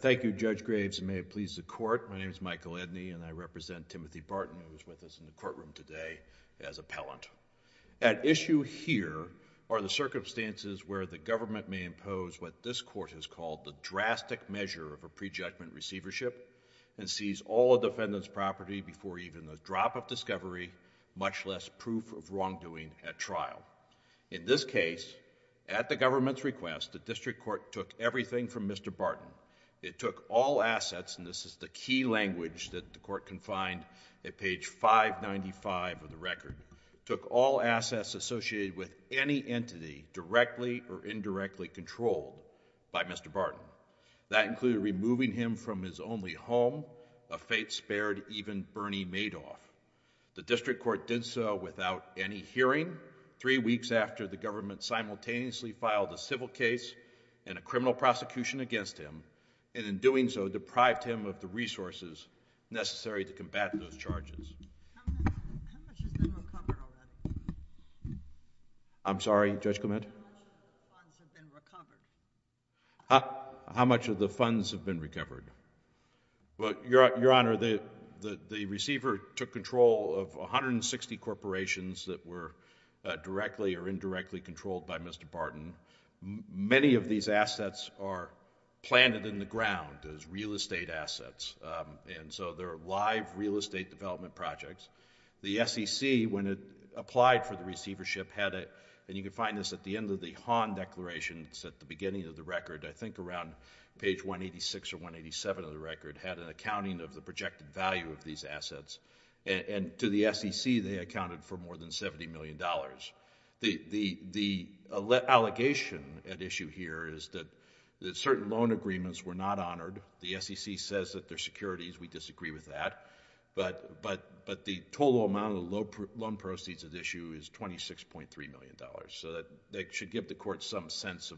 Thank you, Judge Graves, and may it please the Court, my name is Michael Edney and I represent Timothy Barton, who is with us in the courtroom today, as appellant. At issue here are the circumstances where the government may impose what this Court has called the drastic measure of a pre-judgment receivership and seize all a defendant's property before even the drop of discovery, much less proof of wrongdoing at trial. In this case, at the government's request, the District Court took everything from Mr. Barton. It took all assets, and this is the key language that the Court can find at page 595 of the associated with any entity directly or indirectly controlled by Mr. Barton. That included removing him from his only home, a fate spared even Bernie Madoff. The District Court did so without any hearing, three weeks after the government simultaneously filed a civil case and a criminal prosecution against him, and in doing so, deprived him of the resources necessary to combat those charges. How much of the funds have been recovered? Your Honor, the receiver took control of 160 corporations that were directly or indirectly controlled by Mr. Barton. Many of these assets are planted in the ground as real estate assets, and so they're live real estate development projects. The SEC, when it applied for the receivership, had it, and you can find this at the end of the Hahn Declaration, it's at the beginning of the record, I think around page 186 or 187 of the record, had an accounting of the projected value of these assets, and to the SEC, they accounted for more than $70 million. The allegation at issue here is that certain loan agreements were not honored. The SEC says that they're securities, we disagree with that, but the total amount of the loan proceeds at issue is $26.3 million, so that should give the Court some sense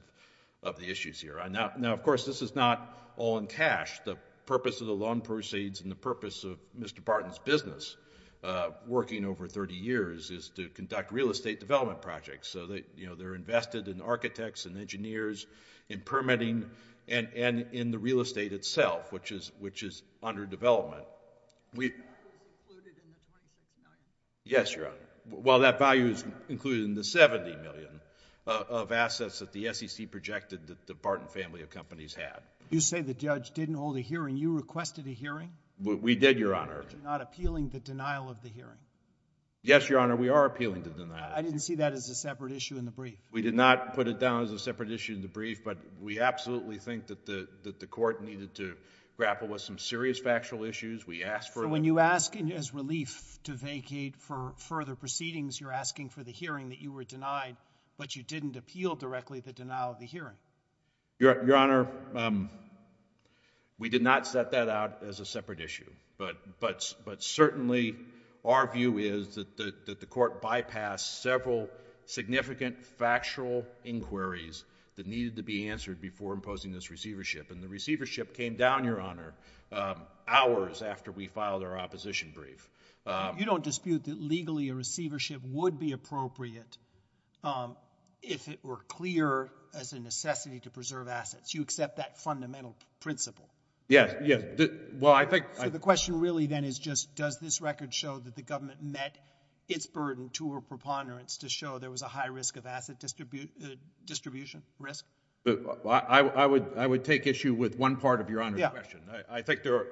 of the issues here. Now, of course, this is not all in cash. The purpose of the loan proceeds and the purpose of Mr. Barton's business, working over 30 years, is to conduct real estate development projects, so they're invested in architects and engineers, in permitting, and in the real estate itself, which is under development. Yes, Your Honor, well, that value is included in the $70 million of assets that the SEC projected that the Barton family of companies had. You say the judge didn't hold a hearing. You requested a hearing? We did, Your Honor. You're not appealing the denial of the hearing? Yes, Your Honor, we are appealing the denial. I didn't see that as a separate issue in the brief. We did not put it down as a separate issue in the brief, but we absolutely think that the Court needed to grapple with some serious factual issues. We asked for it. So when you ask, as relief, to vacate for further proceedings, you're asking for the hearing that you were denied, but you didn't appeal directly the denial of the hearing? Your Honor, we did not set that out as a separate issue, but certainly our view is that the Court bypassed several significant factual inquiries that needed to be answered before imposing this receivership, and the receivership came down, Your Honor, hours after we filed our opposition brief. You don't dispute that legally a receivership would be appropriate if it were clear as a necessity to preserve assets. You accept that fundamental principle? Yes, yes. Well, I think... So the question really then is just, does this record show that the government met its burden to a preponderance to show there was a high risk of asset distribution risk? I would take issue with one part of Your Honor's question. I think there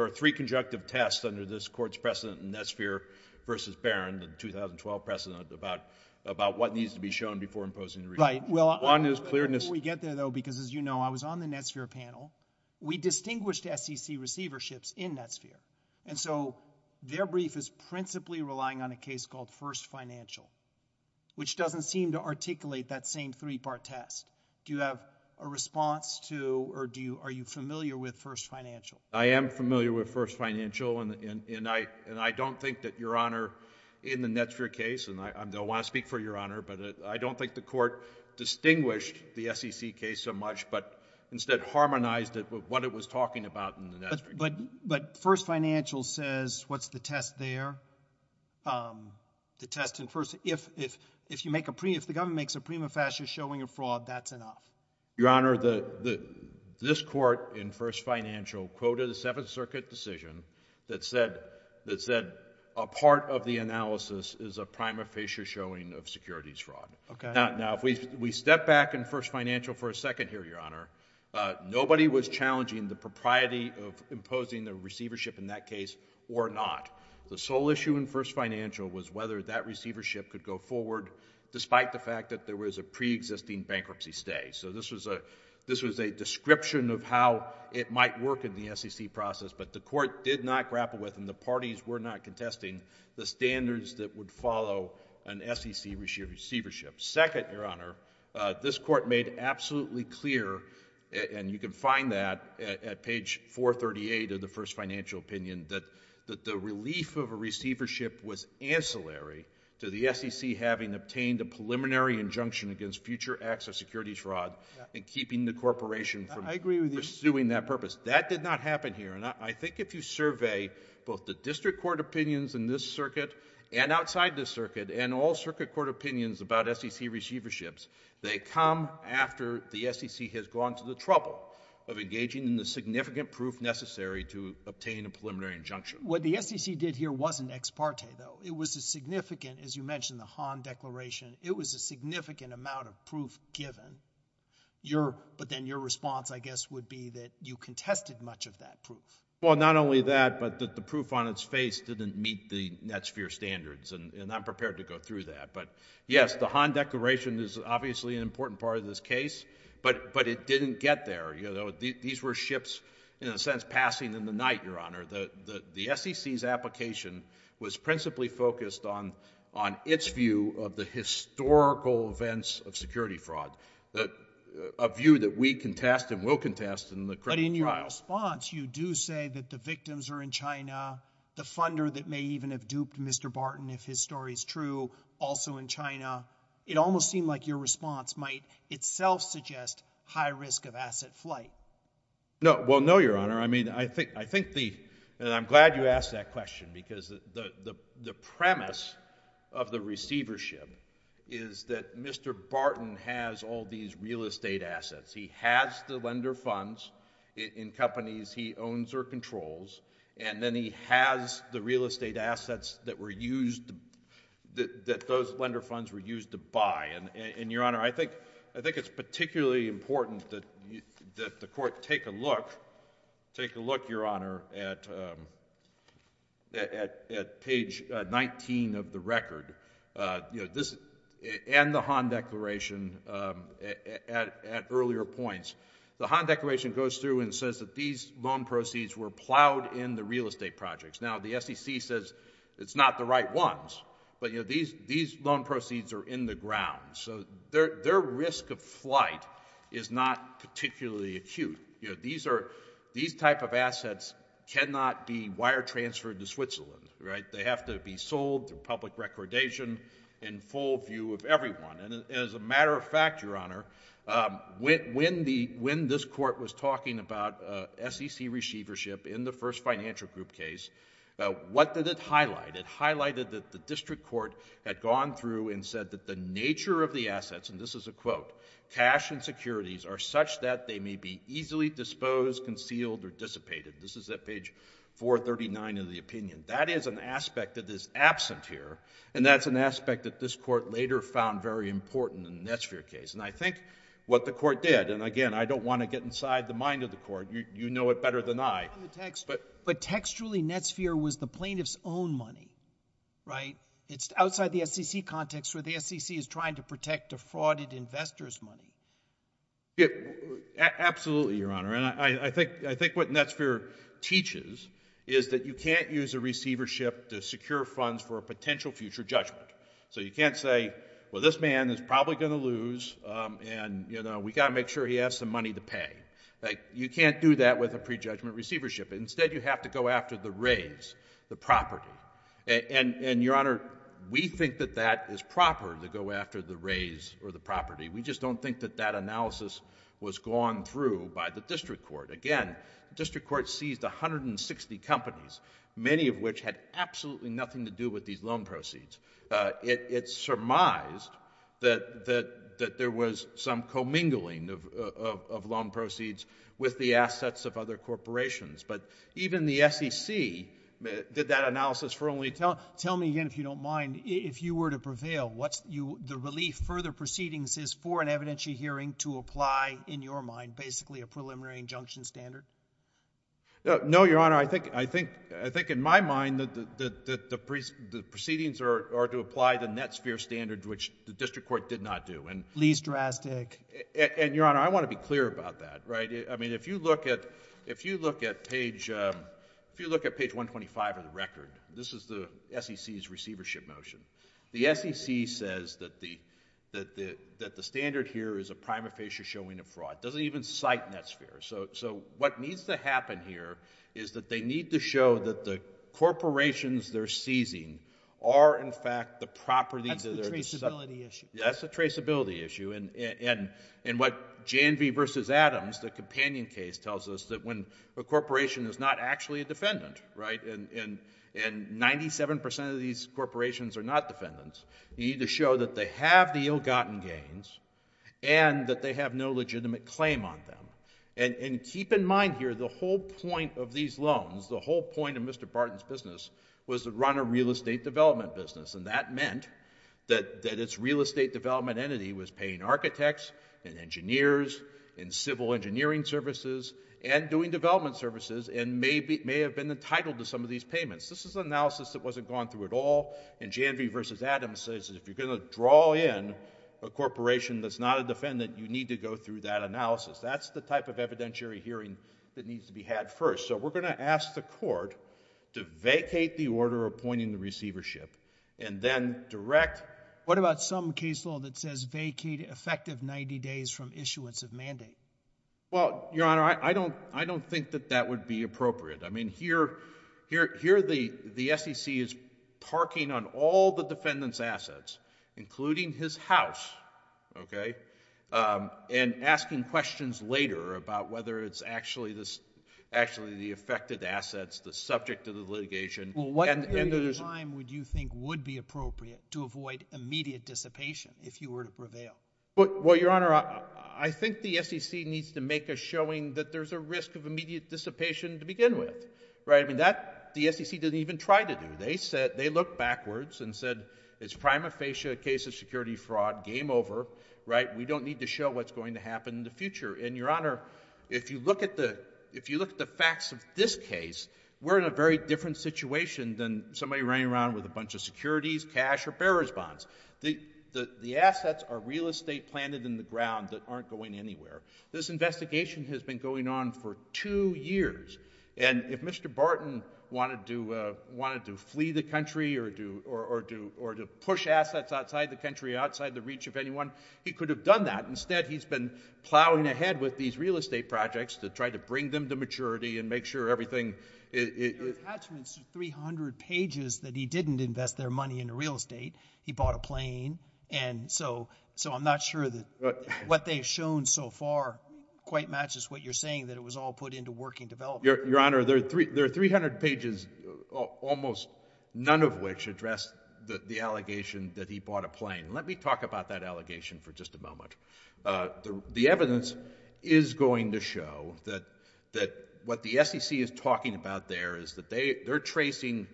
are three conjunctive tests under this Court's precedent in Nesphere versus Barron, the 2012 precedent, about what needs to be shown before imposing the receivership. Right. Before we get there, though, because as you know, I was on the Nesphere panel. We distinguished SEC receiverships in Nesphere, and so their brief is principally relying on a case called First Financial, which doesn't seem to articulate that same three-part test. Do you have a response to, or are you familiar with First Financial? I am familiar with First Financial, and I don't think that, Your Honor, in the Nesphere case, and I don't want to speak for Your Honor, but I don't think the Court distinguished the SEC case so much, but instead harmonized it with what it was talking about in the Nesphere case. But First Financial says, what's the test there? The test in First... If you make a... If the government makes a prima facie showing a fraud, that's enough. Your Honor, this Court in First Financial quoted a Seventh Circuit decision that said a part of the analysis is a prima facie showing of securities fraud. Okay. Now, if we step back in First Financial for a second here, Your Honor, nobody was challenging the propriety of imposing the receivership in that case or not. The sole issue in First Financial was whether that receivership could go forward despite the fact that there was a preexisting bankruptcy stay. So this was a description of how it might work in the SEC process, but the Court did not grapple with, and the parties were not contesting, the standards that would follow an SEC receivership. Second, Your Honor, this Court made absolutely clear, and you can find that at page 438 of the First Financial opinion, that the relief of a receivership was ancillary to the SEC having obtained a preliminary injunction against future acts of securities fraud and keeping the corporation from pursuing that purpose. That did not happen here, and I think if you survey both the district court opinions in this circuit and outside this circuit and all circuit court opinions about SEC receiverships, they come after the SEC has gone to the trouble of engaging in the significant proof necessary to obtain a preliminary injunction. What the SEC did here wasn't ex parte, though. It was a significant, as you mentioned, the Hahn Declaration, it was a significant amount of proof given. But then your response, I guess, would be that you contested much of that proof. Well, not only that, but the proof on its face didn't meet the Netsphere standards, and I'm prepared to go through that, but yes, the Hahn Declaration is obviously an important part of this case, but it didn't get there. These were ships, in a sense, passing in the night, Your Honor. The SEC's application was principally focused on its view of the historical events of security fraud, a view that we contest and will contest in the criminal trial. But in your response, you do say that the victims are in China, the funder that may even have duped Mr. Barton, if his story's true, also in China. It almost seemed like your response might itself suggest high risk of asset flight. No, well, no, Your Honor. I mean, I think the, and I'm glad you asked that question, because the premise of the case is that Mr. Barton has all these real estate assets. He has the lender funds in companies he owns or controls, and then he has the real estate assets that were used, that those lender funds were used to buy, and, Your Honor, I think it's particularly important that the Court take a look, take a look, Your Honor, at page 19 of the record, you know, this, and the Han Declaration at earlier points. The Han Declaration goes through and says that these loan proceeds were plowed in the real estate projects. Now, the SEC says it's not the right ones, but, you know, these loan proceeds are in the ground. So their risk of flight is not particularly acute. You know, these are, these type of assets cannot be wire-transferred to Switzerland, right? They have to be sold through public recordation in full view of everyone, and as a matter of fact, Your Honor, when the, when this Court was talking about SEC receivership in the first financial group case, what did it highlight? It highlighted that the district court had gone through and said that the nature of the assets, and this is a quote, cash and securities are such that they may be easily disposed, concealed, or dissipated. This is at page 439 of the opinion. That is an aspect that is absent here, and that's an aspect that this Court later found very important in the Netsphere case, and I think what the Court did, and again, I don't want to get inside the mind of the Court. You know it better than I. But textually, Netsphere was the plaintiff's own money, right? It's outside the SEC context where the SEC is trying to protect a frauded investor's money. Absolutely, Your Honor, and I think, I think what Netsphere teaches is that you can't use a receivership to secure funds for a potential future judgment. So you can't say, well, this man is probably going to lose, and, you know, we got to make sure he has some money to pay. You can't do that with a prejudgment receivership. Instead, you have to go after the raise, the property, and, Your Honor, we think that that is proper to go after the raise or the property. We just don't think that that analysis was gone through by the district court. Again, the district court seized 160 companies, many of which had absolutely nothing to do with these loan proceeds. It surmised that there was some commingling of loan proceeds with the assets of other corporations, but even the SEC did that analysis for only... Tell me again, if you don't mind, if you were to prevail, what's the relief for the proceedings is for an evidentiary hearing to apply, in your mind, basically a preliminary injunction standard? No, Your Honor, I think, in my mind, the proceedings are to apply the Netsphere standard, which the district court did not do, and... Least drastic. And, Your Honor, I want to be clear about that, right? I mean, if you look at page 125 of the record, this is the SEC's receivership motion. The SEC says that the standard here is a prima facie showing of fraud. It doesn't even cite Netsphere. So what needs to happen here is that they need to show that the corporations they're seizing are, in fact, the properties of their... That's the traceability issue. That's the traceability issue, and what J&V v. Adams, the companion case, tells us that when a corporation is not actually a defendant, right, and 97% of these corporations are not defendants, you need to show that they have the ill-gotten gains and that they have no legitimate claim on them, and keep in mind here, the whole point of these loans, the whole point of Mr. Barton's business was to run a real estate development business, and that meant that its real estate development entity was paying architects and engineers and civil engineering services and doing development services and may have been entitled to some of these payments. This is an analysis that wasn't gone through at all, and J&V v. Adams says that if you're going to draw in a corporation that's not a defendant, you need to go through that analysis. That's the type of evidentiary hearing that needs to be had first. So we're going to ask the court to vacate the order appointing the receivership and then direct... What about some case law that says vacate effective 90 days from issuance of mandate? Well, Your Honor, I don't think that that would be appropriate. I mean, here the SEC is parking on all the defendant's assets, including his house, okay, and asking questions later about whether it's actually the affected assets, the subject of the litigation... Well, what period of time would you think would be appropriate to avoid immediate dissipation if you were to prevail? Well, Your Honor, I think the SEC needs to make a showing that there's a risk of immediate dissipation to begin with, right? I mean, that the SEC didn't even try to do. They looked backwards and said it's prima facie a case of security fraud, game over, right? We don't need to show what's going to happen in the future, and Your Honor, if you look at the facts of this case, we're in a very different situation than somebody running around with a bunch of securities, cash, or bearers' bonds. The assets are real estate planted in the ground that aren't going anywhere. This investigation has been going on for two years, and if Mr. Barton wanted to flee the country or to push assets outside the country, outside the reach of anyone, he could have done that. Instead, he's been plowing ahead with these real estate projects to try to bring them to maturity and make sure everything... The attachments are 300 pages that he didn't invest their money in real estate. He bought a plane, and so I'm not sure that what they've shown so far quite matches what you're saying, that it was all put into working development. Your Honor, there are 300 pages, almost none of which address the allegation that he bought a plane. Let me talk about that allegation for just a moment. The evidence is going to show that what the SEC is talking about there is that they're tracing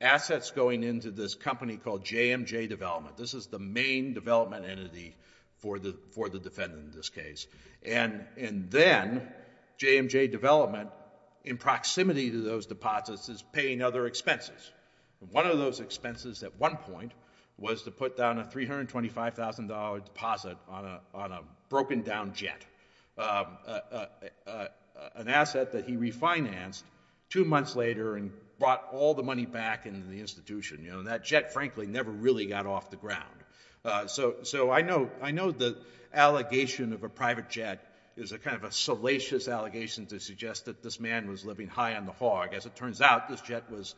assets going into this company called JMJ Development. This is the main development entity for the defendant in this case, and then JMJ Development, in proximity to those deposits, is paying other expenses. One of those expenses at one point was to put down a $325,000 deposit on a broken-down jet, an asset that he refinanced two months later and brought all the money back into the institution. That jet, frankly, never really got off the ground. I know the allegation of a private jet is a kind of a salacious allegation to suggest that this man was living high on the hog. As it turns out, this jet was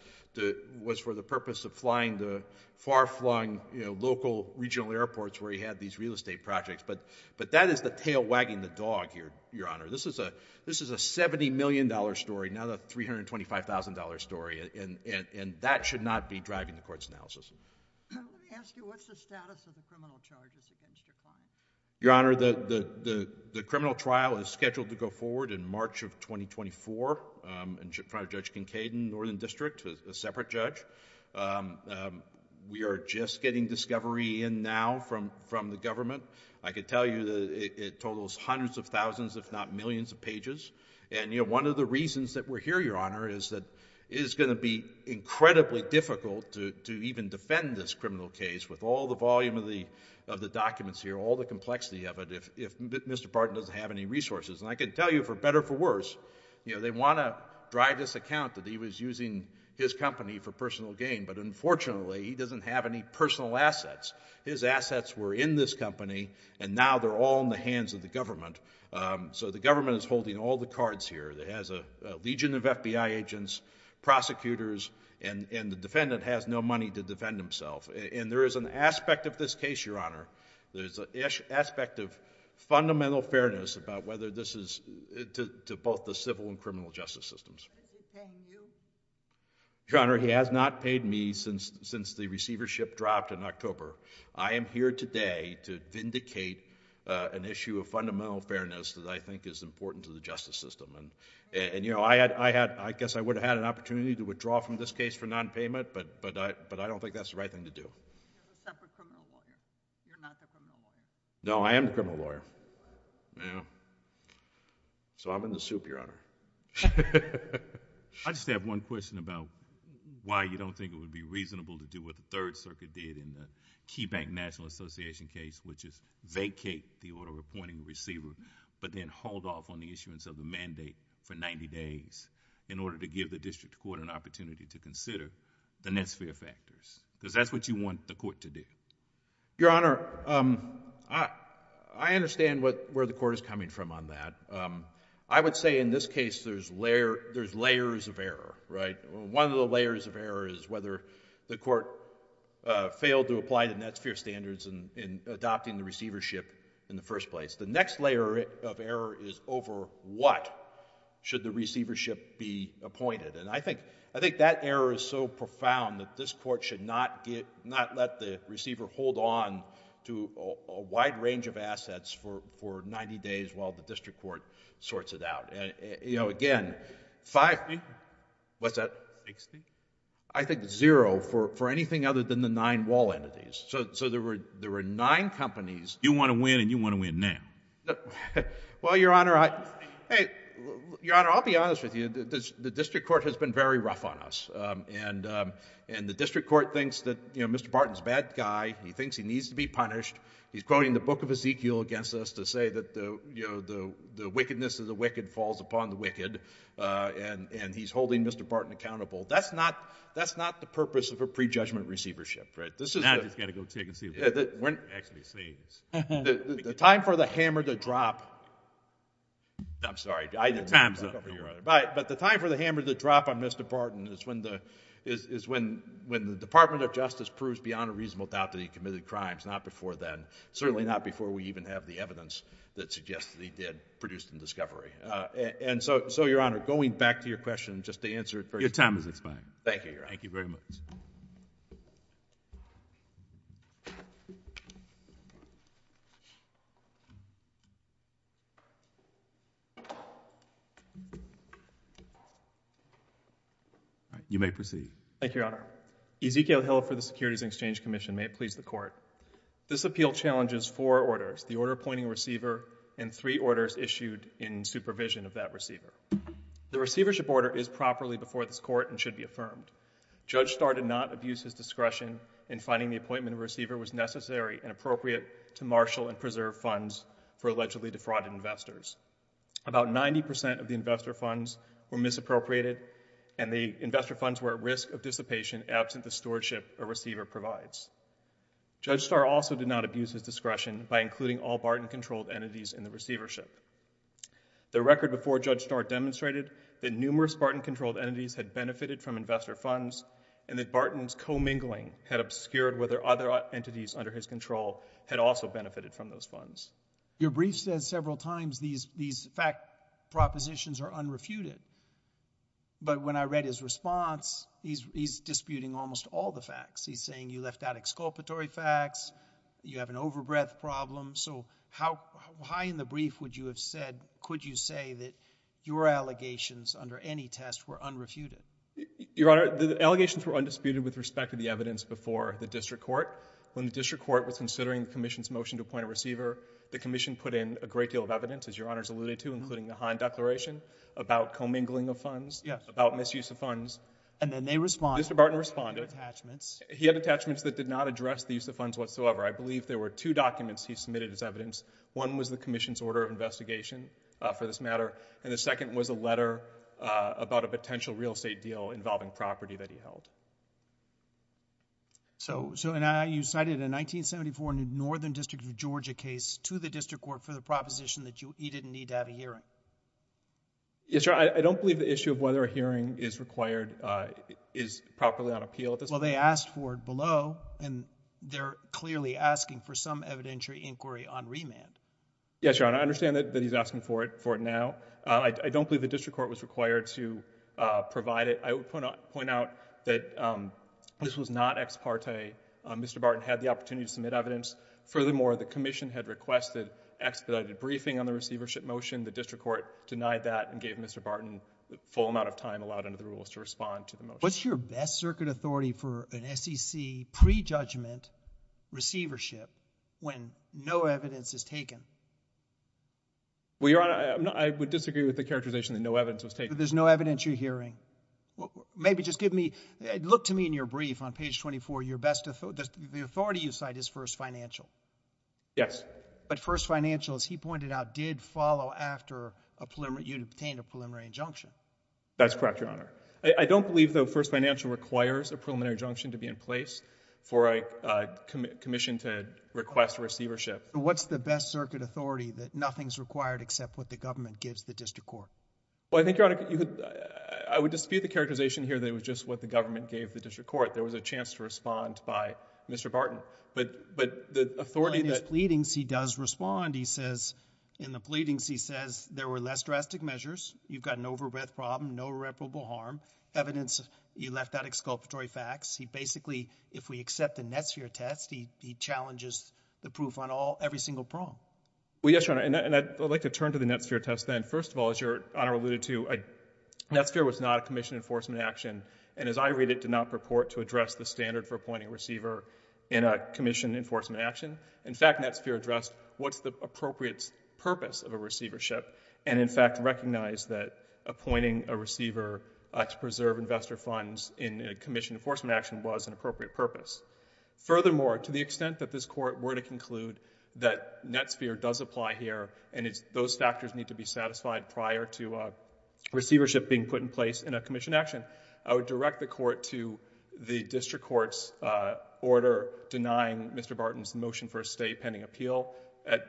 for the purpose of flying to far-flung local regional airports where he had these real estate projects. But that is the tail wagging the dog here, Your Honor. This is a $70 million story, not a $325,000 story, and that should not be driving the court's analysis. Let me ask you, what's the status of the criminal charges against your client? Your Honor, the criminal trial is scheduled to go forward in March of 2024 in front of Judge Kincaid in Northern District, a separate judge. We are just getting discovery in now from the government. I can tell you that it totals hundreds of thousands, if not millions, of pages. One of the reasons that we're here, Your Honor, is that it is going to be incredibly difficult to even defend this criminal case with all the volume of the documents here, all the complexity of it, if Mr. Barton doesn't have any resources. I can tell you, for better or for worse, they want to drive this account that he was using his company for personal gain, but unfortunately, he doesn't have any personal assets. His assets were in this company, and now they're all in the hands of the government. So the government is holding all the cards here. It has a legion of FBI agents, prosecutors, and the defendant has no money to defend himself. And there is an aspect of this case, Your Honor, there's an aspect of fundamental fairness about whether this is, to both the civil and criminal justice systems. Is he paying you? Your Honor, he has not paid me since the receivership dropped in October. I am here today to vindicate an issue of fundamental fairness that I think is important to the justice system. And, you know, I had, I guess I would have had an opportunity to withdraw from this case for nonpayment, but I don't think that's the right thing to do. You're a separate criminal lawyer. You're not the criminal lawyer. No, I am the criminal lawyer. Yeah. So I'm in the soup, Your Honor. I just have one question about why you don't think it would be reasonable to do what the Third Circuit did in the Key Bank National Association case, which is vacate the order appointing the receiver, but then hold off on the issuance of the mandate for 90 days in order to give the district court an opportunity to consider the net sphere factors. Because that's what you want the court to do. Your Honor, I understand where the court is coming from on that. I would say in this case, there's layers of error, right? One of the layers of error is whether the court failed to apply the net sphere standards in adopting the receivership in the first place. The next layer of error is over what should the receivership be appointed. And I think that error is so profound that this court should not let the receiver hold on to a wide range of assets for 90 days while the district court sorts it out. You know, again, five... Sixty? What's that? Sixty? I think zero for anything other than the nine wall entities. So there were nine companies... You want to win, and you want to win now. Well, Your Honor, I... Hey, Your Honor, I'll be honest with you. The district court has been very rough on us. And the district court thinks that, you know, Mr. Barton's a bad guy. He thinks he needs to be punished. He's quoting the Book of Ezekiel against us to say that, you know, the wickedness of the wicked falls upon the wicked. And he's holding Mr. Barton accountable. That's not the purpose of a prejudgment receivership, right? Now I've just got to go take and see what he's actually saying. The time for the hammer to drop... I'm sorry. Time's up. But the time for the hammer to drop on Mr. Barton is when the... Not before then. Certainly not before we even have the evidence that suggests that he did produce the discovery. And so, Your Honor, going back to your question, just to answer it first... Your time has expired. Thank you, Your Honor. Thank you very much. You may proceed. Thank you, Your Honor. Ezekiel Hill for the Securities and Exchange Commission. May it please the Court. This appeal challenges four orders, the order appointing a receiver and three orders issued in supervision of that receiver. The receivership order is properly before this Court and should be affirmed. Judge Starr did not abuse his discretion in finding the appointment of a receiver was necessary and appropriate to marshal and preserve funds for allegedly defrauded investors. About 90% of the investor funds were misappropriated and the investor funds were at risk of dissipation absent the stewardship a receiver provides. Judge Starr also did not abuse his discretion by including all Barton-controlled entities in the receivership. The record before Judge Starr demonstrated that numerous Barton-controlled entities had benefited from investor funds and that Barton's commingling had obscured whether other entities under his control had also benefited from those funds. Your brief says several times these fact propositions are unrefuted. But when I read his response, he's disputing almost all the facts. He's saying you left out exculpatory facts, you have an overbreadth problem. So how high in the brief would you have said, could you say that your allegations under any test were unrefuted? Your Honor, the allegations were undisputed with respect to the evidence before the District Court. When the District Court was considering the Commission's motion to appoint a receiver, the Commission put in a great deal of evidence, as Your Honor's alluded to, including the Hahn Declaration, about commingling of funds, about misuse of funds. And then they responded. Mr. Barton responded. He had attachments. He had attachments that did not address the use of funds whatsoever. I believe there were two documents he submitted as evidence. One was the Commission's order of investigation for this matter, and the second was a letter about a potential real estate deal involving property that he held. So you cited a 1974 Northern District of Georgia case to the District Court for the proposition that he didn't need to have a hearing. Yes, Your Honor, I don't believe the issue of whether a hearing is required is properly on appeal at this point. Well, they asked for it below, and they're clearly asking for some evidentiary inquiry on remand. Yes, Your Honor. I understand that he's asking for it now. I don't believe the District Court was required to provide it. I would point out that this was not ex parte. Mr. Barton had the opportunity to submit evidence. Furthermore, the Commission had requested expedited briefing on the receivership motion. The District Court denied that and gave Mr. Barton the full amount of time allowed under the rules to respond to the motion. What's your best circuit authority for an SEC prejudgment receivership when no evidence is taken? Well, Your Honor, I would disagree with the characterization that no evidence was taken. But there's no evidence you're hearing. Maybe just give me, look to me in your brief on page 24, your best authority. The authority you cite is first financial. Yes. But first financial, as he pointed out, did follow after you had obtained a preliminary injunction. That's correct, Your Honor. I don't believe, though, first financial requires a preliminary injunction to be in place for a Commission to request receivership. What's the best circuit authority that nothing's required except what the government gives the District Court? Well, I think, Your Honor, I would dispute the characterization here that it was just what the government gave the District Court. There was a chance to respond by Mr. Barton. But the authority that... In his pleadings, he does respond. He says, in the pleadings, he says, there were less drastic measures. You've got an overbreadth problem, no irreparable harm. Evidence, you left out exculpatory facts. He basically, if we accept the NetSphere test, he challenges the proof on every single prong. Well, yes, Your Honor. And I'd like to turn to the NetSphere test then. First of all, as Your Honor alluded to, NetSphere was not a Commission enforcement action. And as I read it, did not purport to address the standard for appointing a receiver in a Commission enforcement action. In fact, NetSphere addressed what's the appropriate purpose of a receivership and, in fact, recognized that appointing a receiver to preserve investor funds in a Commission enforcement action was an appropriate purpose. Furthermore, to the extent that this Court were to conclude that NetSphere does apply here and those factors need to be satisfied prior to receivership being put in place in a Commission action, I would direct the Court to the District Court's order denying Mr. Barton's motion for a stay pending appeal at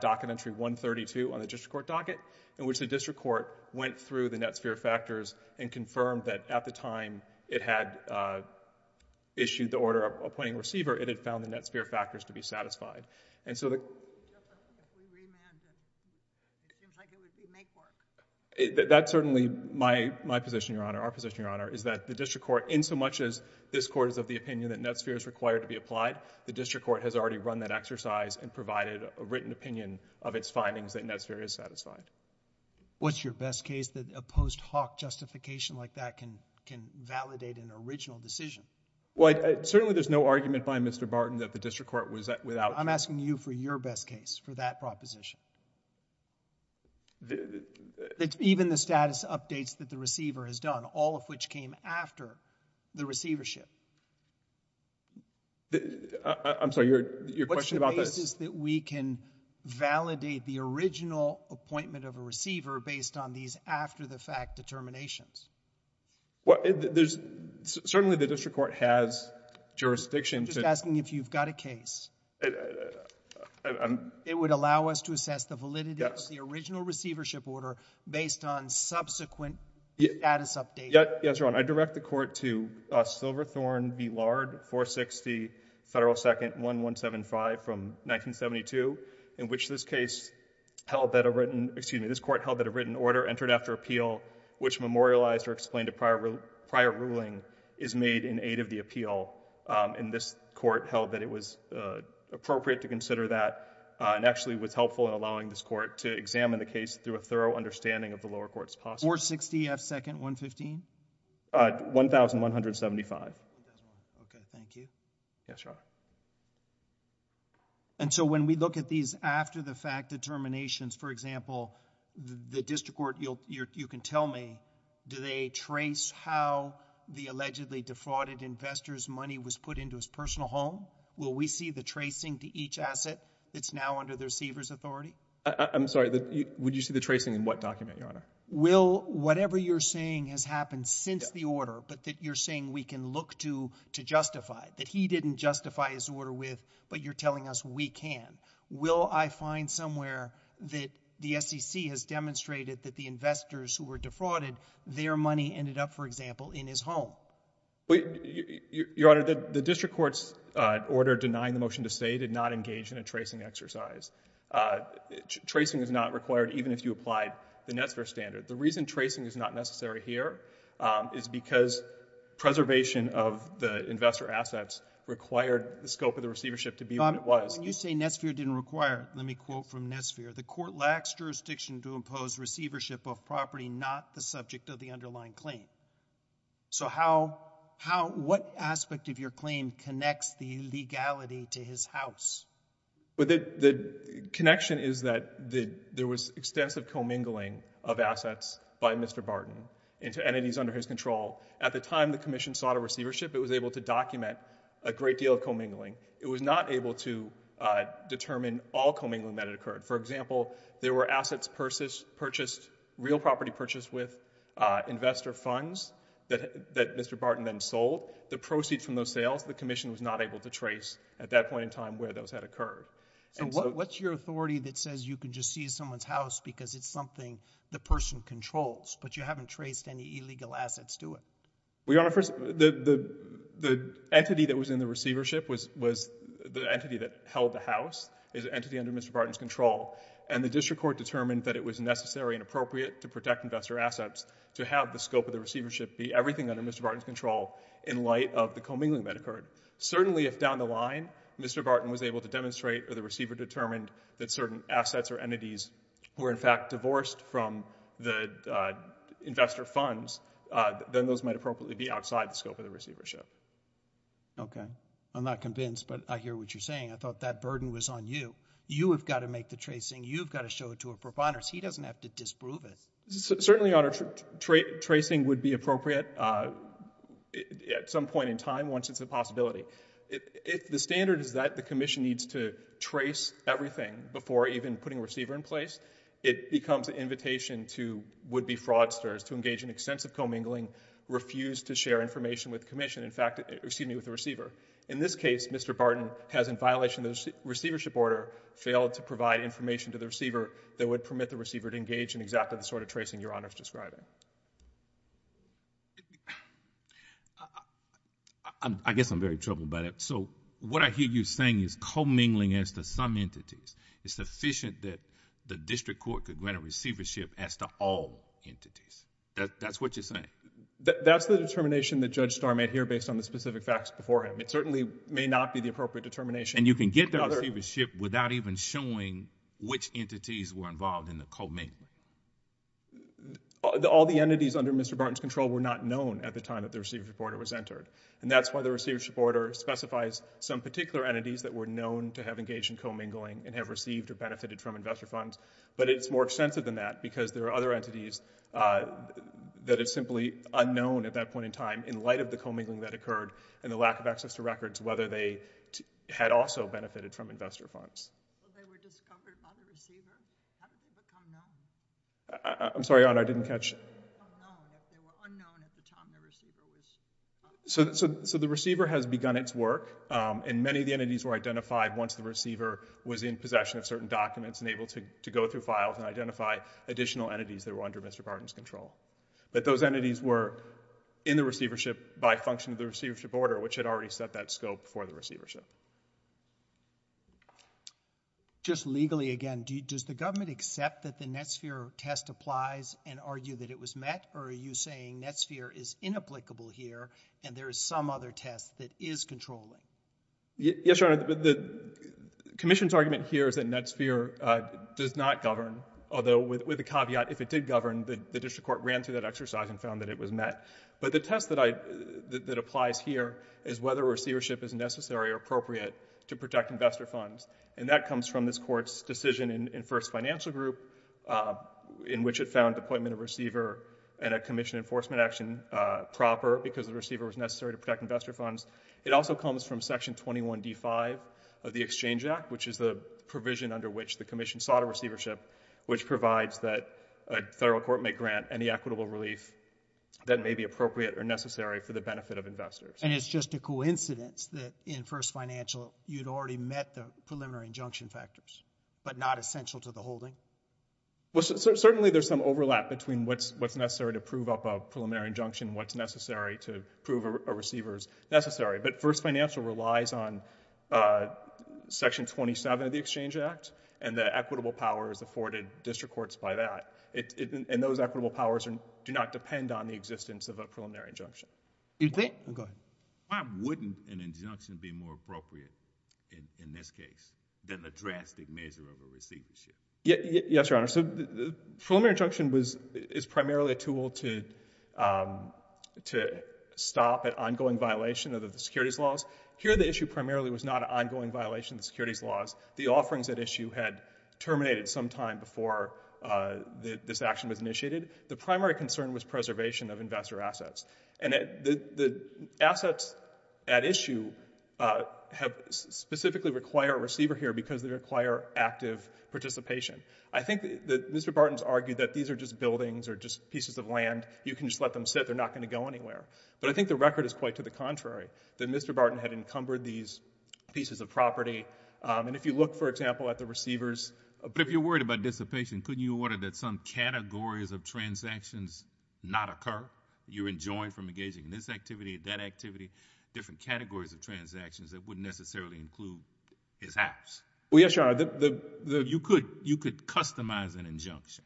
docket entry 132 on the District Court docket in which the District Court went through the NetSphere factors and confirmed that at the time it had issued the order appointing a receiver, it had found the NetSphere factors to be satisfied. It seems like it would be make work. That's certainly my position, Your Honor. Our position, Your Honor, is that the District Court in so much as this Court is of the opinion that NetSphere is required to be applied, the District Court has already run that exercise and provided a written opinion of its findings that NetSphere is satisfied. What's your best case that a post hoc justification like that can validate an original decision? Certainly there's no argument by Mr. Barton that the District Court was without... I'm asking you for your best case for that proposition. Even the status updates that the receiver has done, all of which came after the receivership. I'm sorry. What's the basis that we can validate the original appointment of a receiver based on these after-the-fact determinations? Certainly the District Court has jurisdiction to... I'm just asking if you've got a case. It would allow us to assess the validity of the original receivership order based on subsequent status updates. Yes, Your Honor. I direct the Court to Silverthorne v. Lard, 460 Federal 2nd, 1175 from 1972, in which this case held that a written... excuse me, this Court held that a written order entered after appeal which memorialized or explained a prior ruling is made in aid of the appeal. And this Court held that it was appropriate to consider that and actually was helpful in allowing this Court to examine the case through a thorough understanding of the lower courts possible. 460 F 2nd, 115? 1,175. Okay, thank you. Yes, Your Honor. And so when we look at these after-the-fact determinations, for example, the District Court... you can tell me, do they trace how the allegedly defrauded investor's money was put into his personal home? Will we see the tracing to each asset that's now under the receiver's authority? I'm sorry, would you see the tracing in what document, Your Honor? Whatever you're saying has happened since the order, but that you're saying we can look to justify, that he didn't justify his order with, but you're telling us we can. Will I find somewhere that the SEC has demonstrated that the investors who were defrauded, their money ended up, for example, in his home? Your Honor, the District Court's order denying the motion to stay did not engage in a tracing exercise. Tracing is not required, even if you applied the NETSFER standard. The reason tracing is not necessary here is because preservation of the investor assets required the scope of the receivership to be what it was. When you say NETSFER didn't require it, let me quote from NETSFER. The Court lacks jurisdiction to impose receivership of property not the subject of the underlying claim. So how... what aspect of your claim connects the legality to his house? The connection is that there was extensive commingling of assets by Mr. Barton into entities under his control. At the time the Commission sought a receivership, it was able to document a great deal of commingling. It was not able to determine all commingling that had occurred. For example, there were assets purchased, real property purchased with investor funds that Mr. Barton then sold. The proceeds from those sales, the Commission was not able to trace at that point in time where those had occurred. So what's your authority that says you can just seize someone's house because it's something the person controls but you haven't traced any illegal assets to it? The entity that was in the receivership was the entity that held the house. It was an entity under Mr. Barton's control and the District Court determined that it was necessary and appropriate to protect investor assets to have the scope of the receivership be everything under Mr. Barton's control in light of the commingling that occurred. Certainly if down the line Mr. Barton was able to demonstrate or the receiver determined that certain assets or entities were in fact divorced from the investor funds, then those might appropriately be outside the scope of the receivership. Okay. I'm not convinced but I hear what you're saying. I thought that burden was on you. You have got to make the tracing. You've got to show it to a proponent so he doesn't have to disprove it. Certainly, Your Honor, tracing would be appropriate at some point in time once it's a possibility. If the standard is that the commission needs to trace everything before even putting a receiver in place, it becomes an invitation to would-be fraudsters to engage in extensive commingling, refuse to share information with the receiver. In this case, Mr. Barton has, in violation of the receivership order, failed to provide information to the receiver that would permit the receiver to engage in exactly the sort of tracing Your Honor is describing. I guess I'm very troubled by that. What I hear you saying is commingling as to some entities is sufficient that the district court could grant a receivership as to all entities. That's what you're saying? That's the determination that Judge Starr made here based on the specific facts before him. It certainly may not be the appropriate determination. And you can get the receivership without even showing which entities were involved in the commingling. All the entities under Mr. Barton's control were not known at the time that the receivership order was entered. And that's why the receivership order specifies some particular entities that were known to have engaged in commingling and have received or benefited from investor funds. But it's more extensive than that because there are other entities that it's simply unknown at that point in time in light of the commingling that occurred and the lack of access to records whether they had also benefited from investor funds. So they were discovered by the receiver? How did they become known? I'm sorry, Your Honor, I didn't catch... How did they become known if they were unknown at the time the receiver was... So the receiver has begun its work and many of the entities were identified once the receiver was in possession of certain documents and able to go through files and identify additional entities that were under Mr. Barton's control. But those entities were in the receivership by function of the receivership order which had already set that scope for the receivership. Just legally again, does the government accept that the Netsphere test applies and argue that it was met or are you saying Netsphere is inapplicable here and there is some other test that is controlling? Yes, Your Honor, the commission's argument here is that Netsphere does not govern although with a caveat, if it did govern the district court ran through that exercise and found that it was met. But the test that I that applies here is whether receivership is necessary or appropriate to protect investor funds and that comes from this court's decision in first financial group in which it found appointment of receiver and a commission enforcement action proper because the receiver was necessary to protect investor funds. It also comes from section 21 D5 of the Exchange Act which is the provision under which the commission sought a receivership which provides that a federal court may grant any equitable relief that may be appropriate or necessary for the benefit of investors. And it's just a coincidence that in first financial you'd already met the preliminary injunction factors but not essential to the holding? Certainly there's some overlap between what's necessary to prove up a preliminary injunction and what's necessary to prove a receiver's necessary. But first financial relies on section 27 of the Exchange Act and the equitable powers afforded district courts by that and those equitable powers do not depend on the existence of a preliminary injunction. Why wouldn't an injunction be more appropriate in this case than a drastic measure of a receivership? Yes, Your Honor. Preliminary injunction is primarily a tool to stop an ongoing violation of the securities laws. Here the issue primarily was not an ongoing violation of the securities laws. The offerings at issue had terminated sometime before this action was initiated. The primary concern was preservation of investor assets. And the assets at issue specifically require a receiver here because they require active participation. I think Mr. Barton's argued that these are just buildings or just pieces of land. You can just let them sit. They're not going to go anywhere. But I think the record is quite to the contrary. Mr. Barton had encumbered these pieces of property and if you look for example at the receiver's But if you're worried about dissipation, couldn't you order that some categories of transactions not occur? You're enjoined from engaging in this activity, that activity, different categories of transactions that wouldn't necessarily include his house? Well, yes, Your Honor. You could customize an injunction.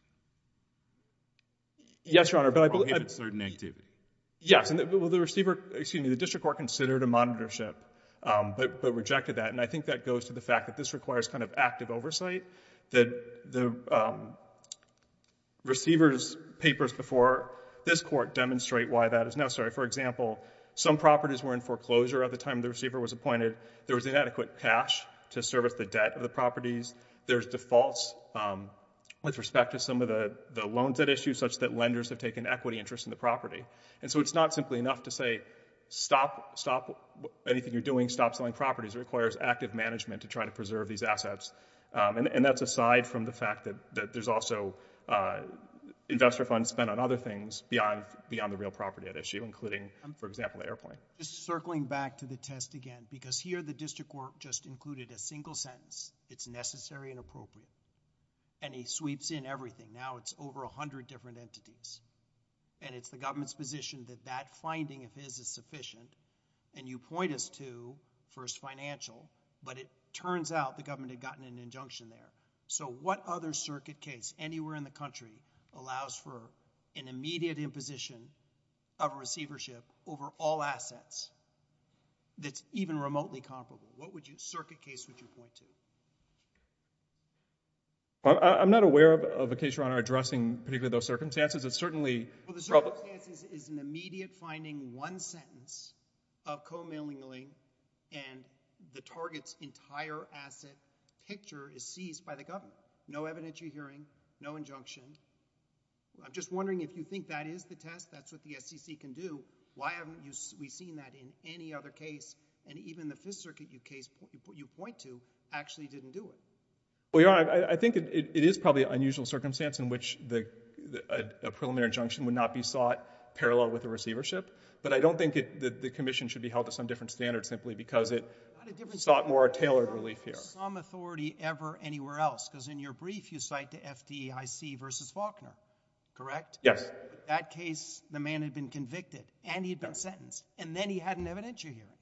Yes, Your Honor, but I believe Yes, and the receiver, excuse me, the district court considered a monitorship but rejected that and I think that goes to the fact that this requires kind of active oversight. The receiver's papers before this court demonstrate why that is necessary. For example, some properties were in foreclosure at the time the receiver was appointed. There was inadequate cash to service the debt of the properties. There's defaults with respect to some of the loans at issue such that lenders have taken equity interest in the property. And so it's not simply enough to say stop anything you're doing, stop selling properties. It requires active management to try to preserve these assets and that's aside from the fact that there's also investor funds spent on other things beyond the real property at issue including, for example, the airplane. Just circling back to the test again because here the district court just included a single sentence. It's necessary and appropriate and he sweeps in everything. Now it's over a hundred different entities and it's the government's position that that and you point us to First Financial, but it turns out the government had gotten an injunction there. So what other circuit case anywhere in the country allows for an immediate imposition of receivership over all assets that's even remotely comparable? What circuit case would you point to? I'm not aware of a case, Your Honor, addressing particularly those circumstances. It's certainly Well the circumstances is an immediate finding one sentence of co-mailing link and the target's entire asset picture is seized by the government. No evidence you're hearing. No injunction. I'm just wondering if you think that is the test. That's what the SEC can do. Why haven't we seen that in any other case and even the Fifth Circuit case you point to actually didn't do it? Well, Your Honor, I think it is probably an unusual circumstance in which a preliminary injunction would not be sought parallel with the receivership but I don't think the commission should be held to some different standard simply because it sought more tailored relief here. Some authority ever anywhere else because in your brief you cite the FDIC versus Faulkner, correct? Yes. That case, the man had been convicted and he'd been sentenced and then he had an evidentiary hearing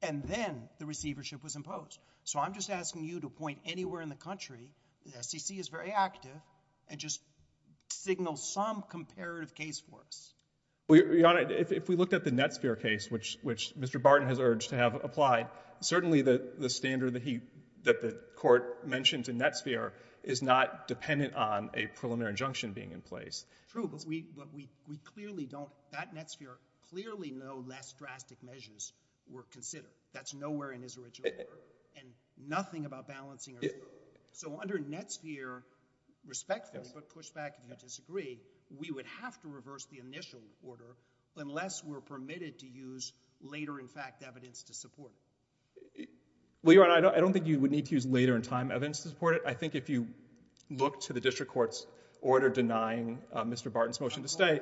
and then the receivership was imposed. So I'm just asking you to point anywhere in the country, the SEC is very active and just signal some comparative case for us. Your Honor, if we looked at the Netsphere case, which Mr. Barton has urged to have applied, certainly the standard that the Court mentioned in Netsphere is not dependent on a preliminary injunction being in place. True, but we clearly don't, that Netsphere clearly no less drastic measures were considered. That's nowhere in his original work and nothing about balancing. So under Netsphere respectfully, but push back if you disagree, we would have to reverse the initial order unless we're permitted to use later in fact evidence to support it. Well, Your Honor, I don't think you would need to use later in time evidence to support it. I think if you look to the District Court's order denying Mr. Barton's motion to stay,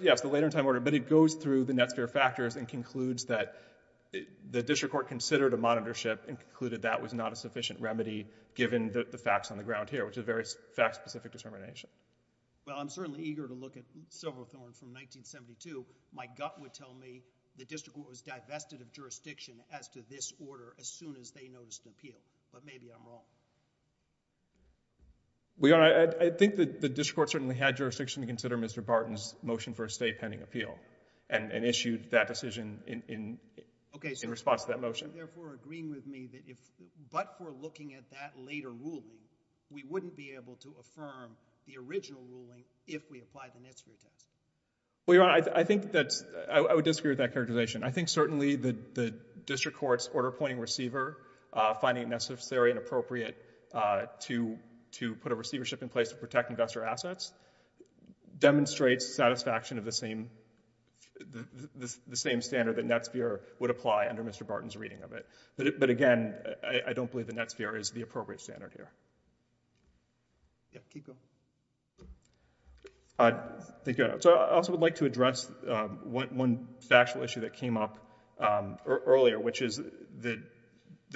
yes, the later in time order, but it goes through the Netsphere factors and concludes that the District Court considered a monitorship and concluded that was not a sufficient remedy given the facts on the ground here, which is a very fact specific determination. Well, I'm certainly eager to look at Silverthorne from 1972. My gut would tell me the District Court was divested of jurisdiction as to this order as soon as they noticed an appeal, but maybe I'm wrong. Well, Your Honor, I think the District Court certainly had jurisdiction to consider Mr. Barton's motion for a stay pending appeal and issued that decision in response to that motion. Are you therefore agreeing with me that if but for looking at that later ruling, we wouldn't be able to affirm the original ruling if we apply the Netsphere test? Well, Your Honor, I think that's, I would disagree with that characterization. I think certainly the District Court's order appointing receiver finding it necessary and appropriate to put a receivership in place to protect investor assets demonstrates satisfaction of the same standard that Netsphere would apply under Mr. Barton's reading of it. But again, I don't believe that Netsphere is the appropriate standard here. Thank you, Your Honor. So I also would like to address one factual issue that came up earlier, which is the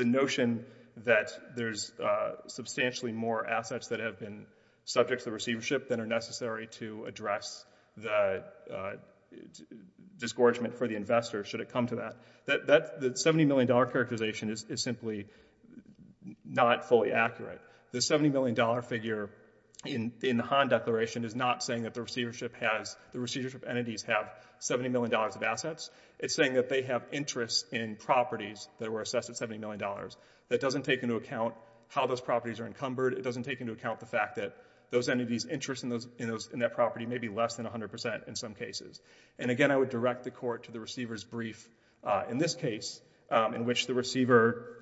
notion that there's substantially more assets that have been subject to receivership than are necessary to address the discouragement for the investor, should it come to that. That $70 million characterization is simply not fully accurate. The $70 million figure in the Hahn Declaration is not saying that the receivership has, the receivership entities have $70 million of assets. It's saying that they have interest in properties that were assessed at $70 million. That doesn't take into account how those properties are encumbered. It doesn't take into account the fact that those entities' interest in that property may be less than 100% in some cases. And again, I would direct the Court to the receiver's brief in this case, in which the receiver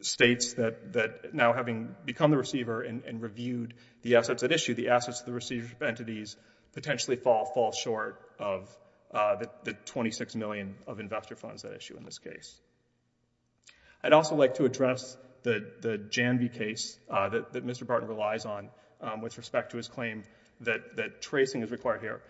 states that now having become the receiver and reviewed the assets at issue, the assets of the receivership entities potentially fall short of the $26 million of investor funds at issue in this case. I'd also like to address the Janvey case that Mr. Barton relies on with respect to his claim that tracing is required here.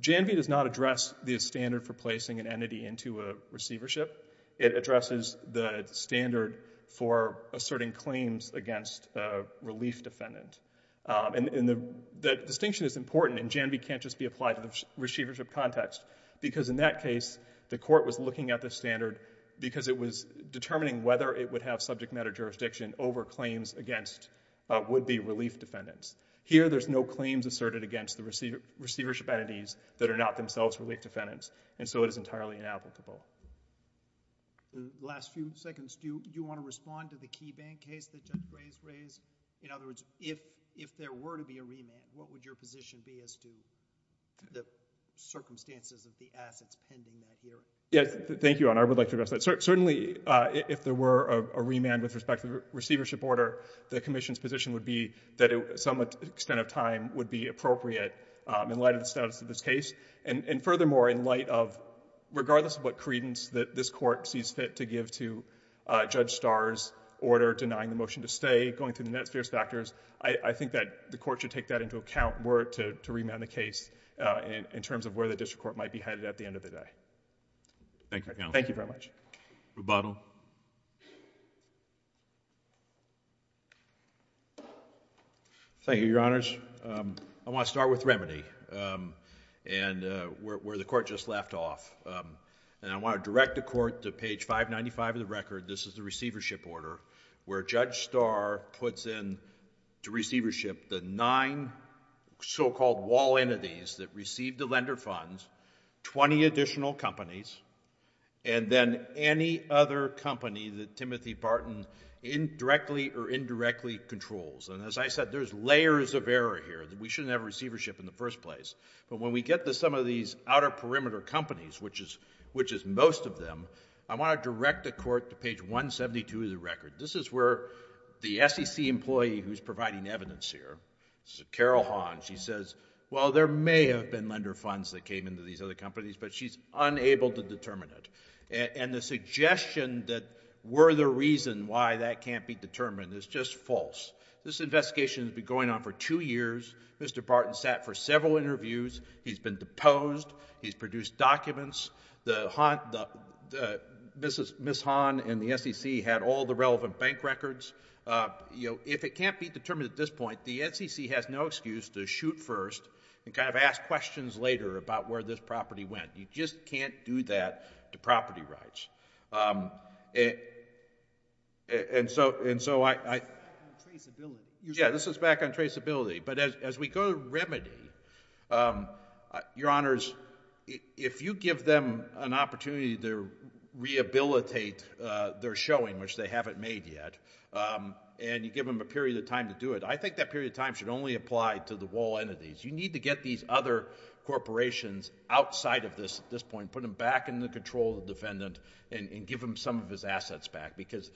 Janvey does not address the standard for placing an entity into a receivership. It addresses the standard for asserting claims against a relief defendant. The distinction is important, and Janvey can't just be applied to the receivership context, because in that case the Court was looking at the standard because it was determining whether it would have subject matter jurisdiction over claims against would-be claims asserted against the receivership entities that are not themselves relief defendants. And so it is entirely inapplicable. Last few seconds. Do you want to respond to the KeyBank case that Judge Gray has raised? In other words, if there were to be a remand, what would your position be as to the circumstances of the assets pending that hearing? Thank you, Your Honor. I would like to address that. Certainly, if there were a remand with respect to the receivership order, the Commission's position would be that some extent of time would be appropriate in light of the status of this case. And furthermore, in light of, regardless of what credence that this Court sees fit to give to Judge Starr's order denying the motion to stay, going through the net spurious factors, I think that the Court should take that into account were it to remand the case in terms of where the district court might be headed at the end of the day. Thank you. Thank you very much. Rebuttal. Thank you, Your Honors. I want to start with remedy and where the Court just left off. And I want to direct the Court to page 595 of the record. This is the receivership order where Judge Starr puts in to receivership the nine so-called wall entities that received the lender funds, 20 additional companies, and then any other company that Timothy Barton indirectly or indirectly received. There's layers of error here. We shouldn't have receivership in the first place. But when we get to some of these outer perimeter companies, which is most of them, I want to direct the Court to page 172 of the record. This is where the SEC employee who's providing evidence here, Carol Hahn, she says, well, there may have been lender funds that came into these other companies, but she's unable to determine it. And the suggestion that we're the reason why that can't be determined is just false. This investigation has been going on for two years. Mr. Barton sat for several interviews. He's been deposed. He's produced documents. Ms. Hahn and the SEC had all the relevant bank records. If it can't be determined at this point, the SEC has no excuse to shoot first and kind of ask questions later about where this property went. You just can't do that to property rights. And so I... Yeah, this is back on traceability. But as we go to remedy, Your Honors, if you give them an opportunity to rehabilitate their showing, which they haven't made yet, and you give them a period of time to do it, I think that period of time should only apply to the wall entities. You need to get these other corporations outside of this at this point, put them back in the control of the defendant, and give them some of his assets back. Because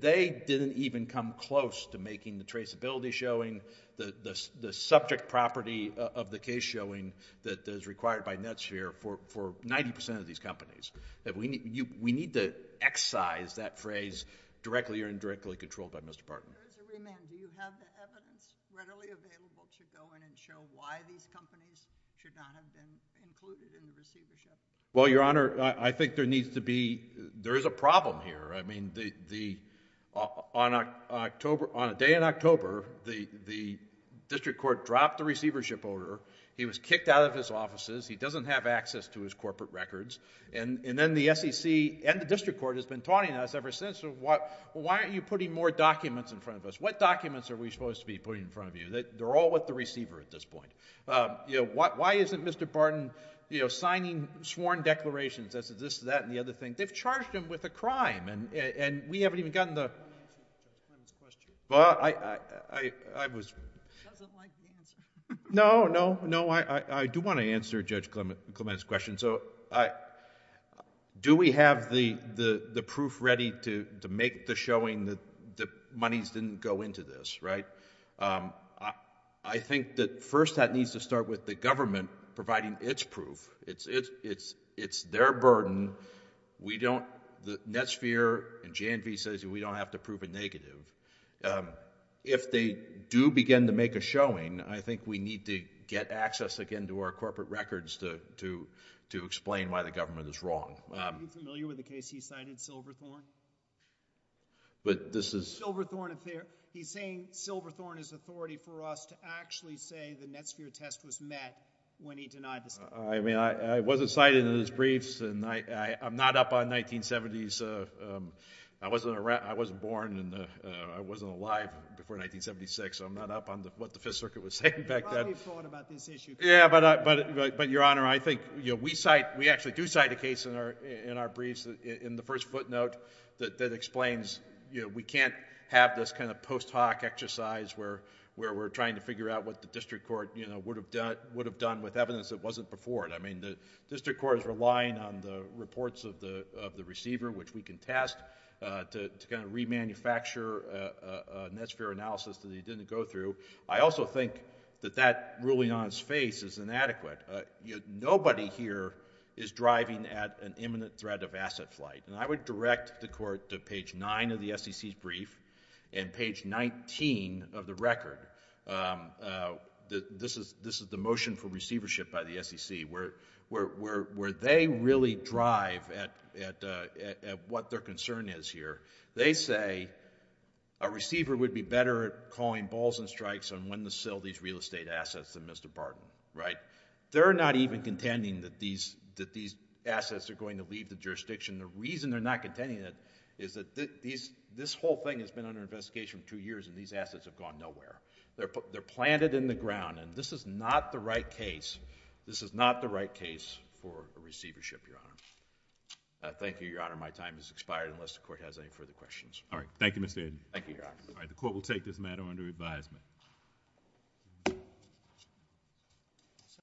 they didn't even come close to making the traceability showing, the subject property of the case showing that is required by Netsphere for 90% of these companies. We need to excise that phrase directly or indirectly controlled by Mr. Barton. Do you have the evidence readily available to go in and show why these companies should not have been included in the receivership? Well, Your Honor, I think there needs to be, there is a problem here. I mean, on a day in October, the district court dropped the receivership order. He was kicked out of his offices. He doesn't have access to his corporate records. And then the SEC and the district court has been taunting us ever since. Why aren't you putting more documents in front of us? What documents are we supposed to be putting in front of you? They're all with the receiver at this point. Why isn't Mr. Barton signing sworn declarations as this, that, and the other thing? They've charged him with a crime and we haven't even gotten the... Well, I was... No, no, no. I do want to answer Judge Clement's question. Do we have the proof ready to make the showing that the monies didn't go into this, right? I think that first that needs to start with the government providing its proof. It's their burden. We don't... Netsphere and JNV says we don't have to prove a negative. If they do begin to make a showing, I think we need to get access again to our corporate records to explain why the government is wrong. Are you familiar with the case he cited, Silverthorne? But this is... He's saying Silverthorne is authority for us to actually say the Netsphere test was met when he denied the... I mean, I wasn't cited in his briefs and I'm not up on 1970s... I wasn't born and I wasn't alive before 1976, so I'm not up on what the Fifth Circuit was saying back then. You probably thought about this issue. Yeah, but Your Honor, I think we cite, we actually do cite a case in our briefs in the first footnote that explains we can't have this kind of post hoc exercise where we're trying to figure out what the District Court would have done with evidence that wasn't before it. I mean, the District Court is relying on the reports of the receiver, which we can test to kind of re-manufacture a Netsphere analysis that he didn't go through. I also think that that ruling on his face is inadequate. Nobody here is driving at an imminent threat of asset flight. And I would direct the Court to page 9 of the SEC's brief and page 19 of the record. This is the motion for receivership by the SEC where they really drive at what their concern is here. They say a receiver would be better at calling balls and strikes on when to sell these real estate assets than Mr. Barton. They're not even contending that these assets are going to leave the jurisdiction. The reason they're not contending it is that this whole thing has been under investigation for two years and these assets have gone nowhere. They're planted in the ground and this is not the right case. This is not the right case for a receivership, Your Honor. Thank you, Your Honor. My time has expired unless the Court has any further questions. All right. Thank you, Mr. Aden. Thank you, Your Honor. All right. The Court will take this matter under advisement.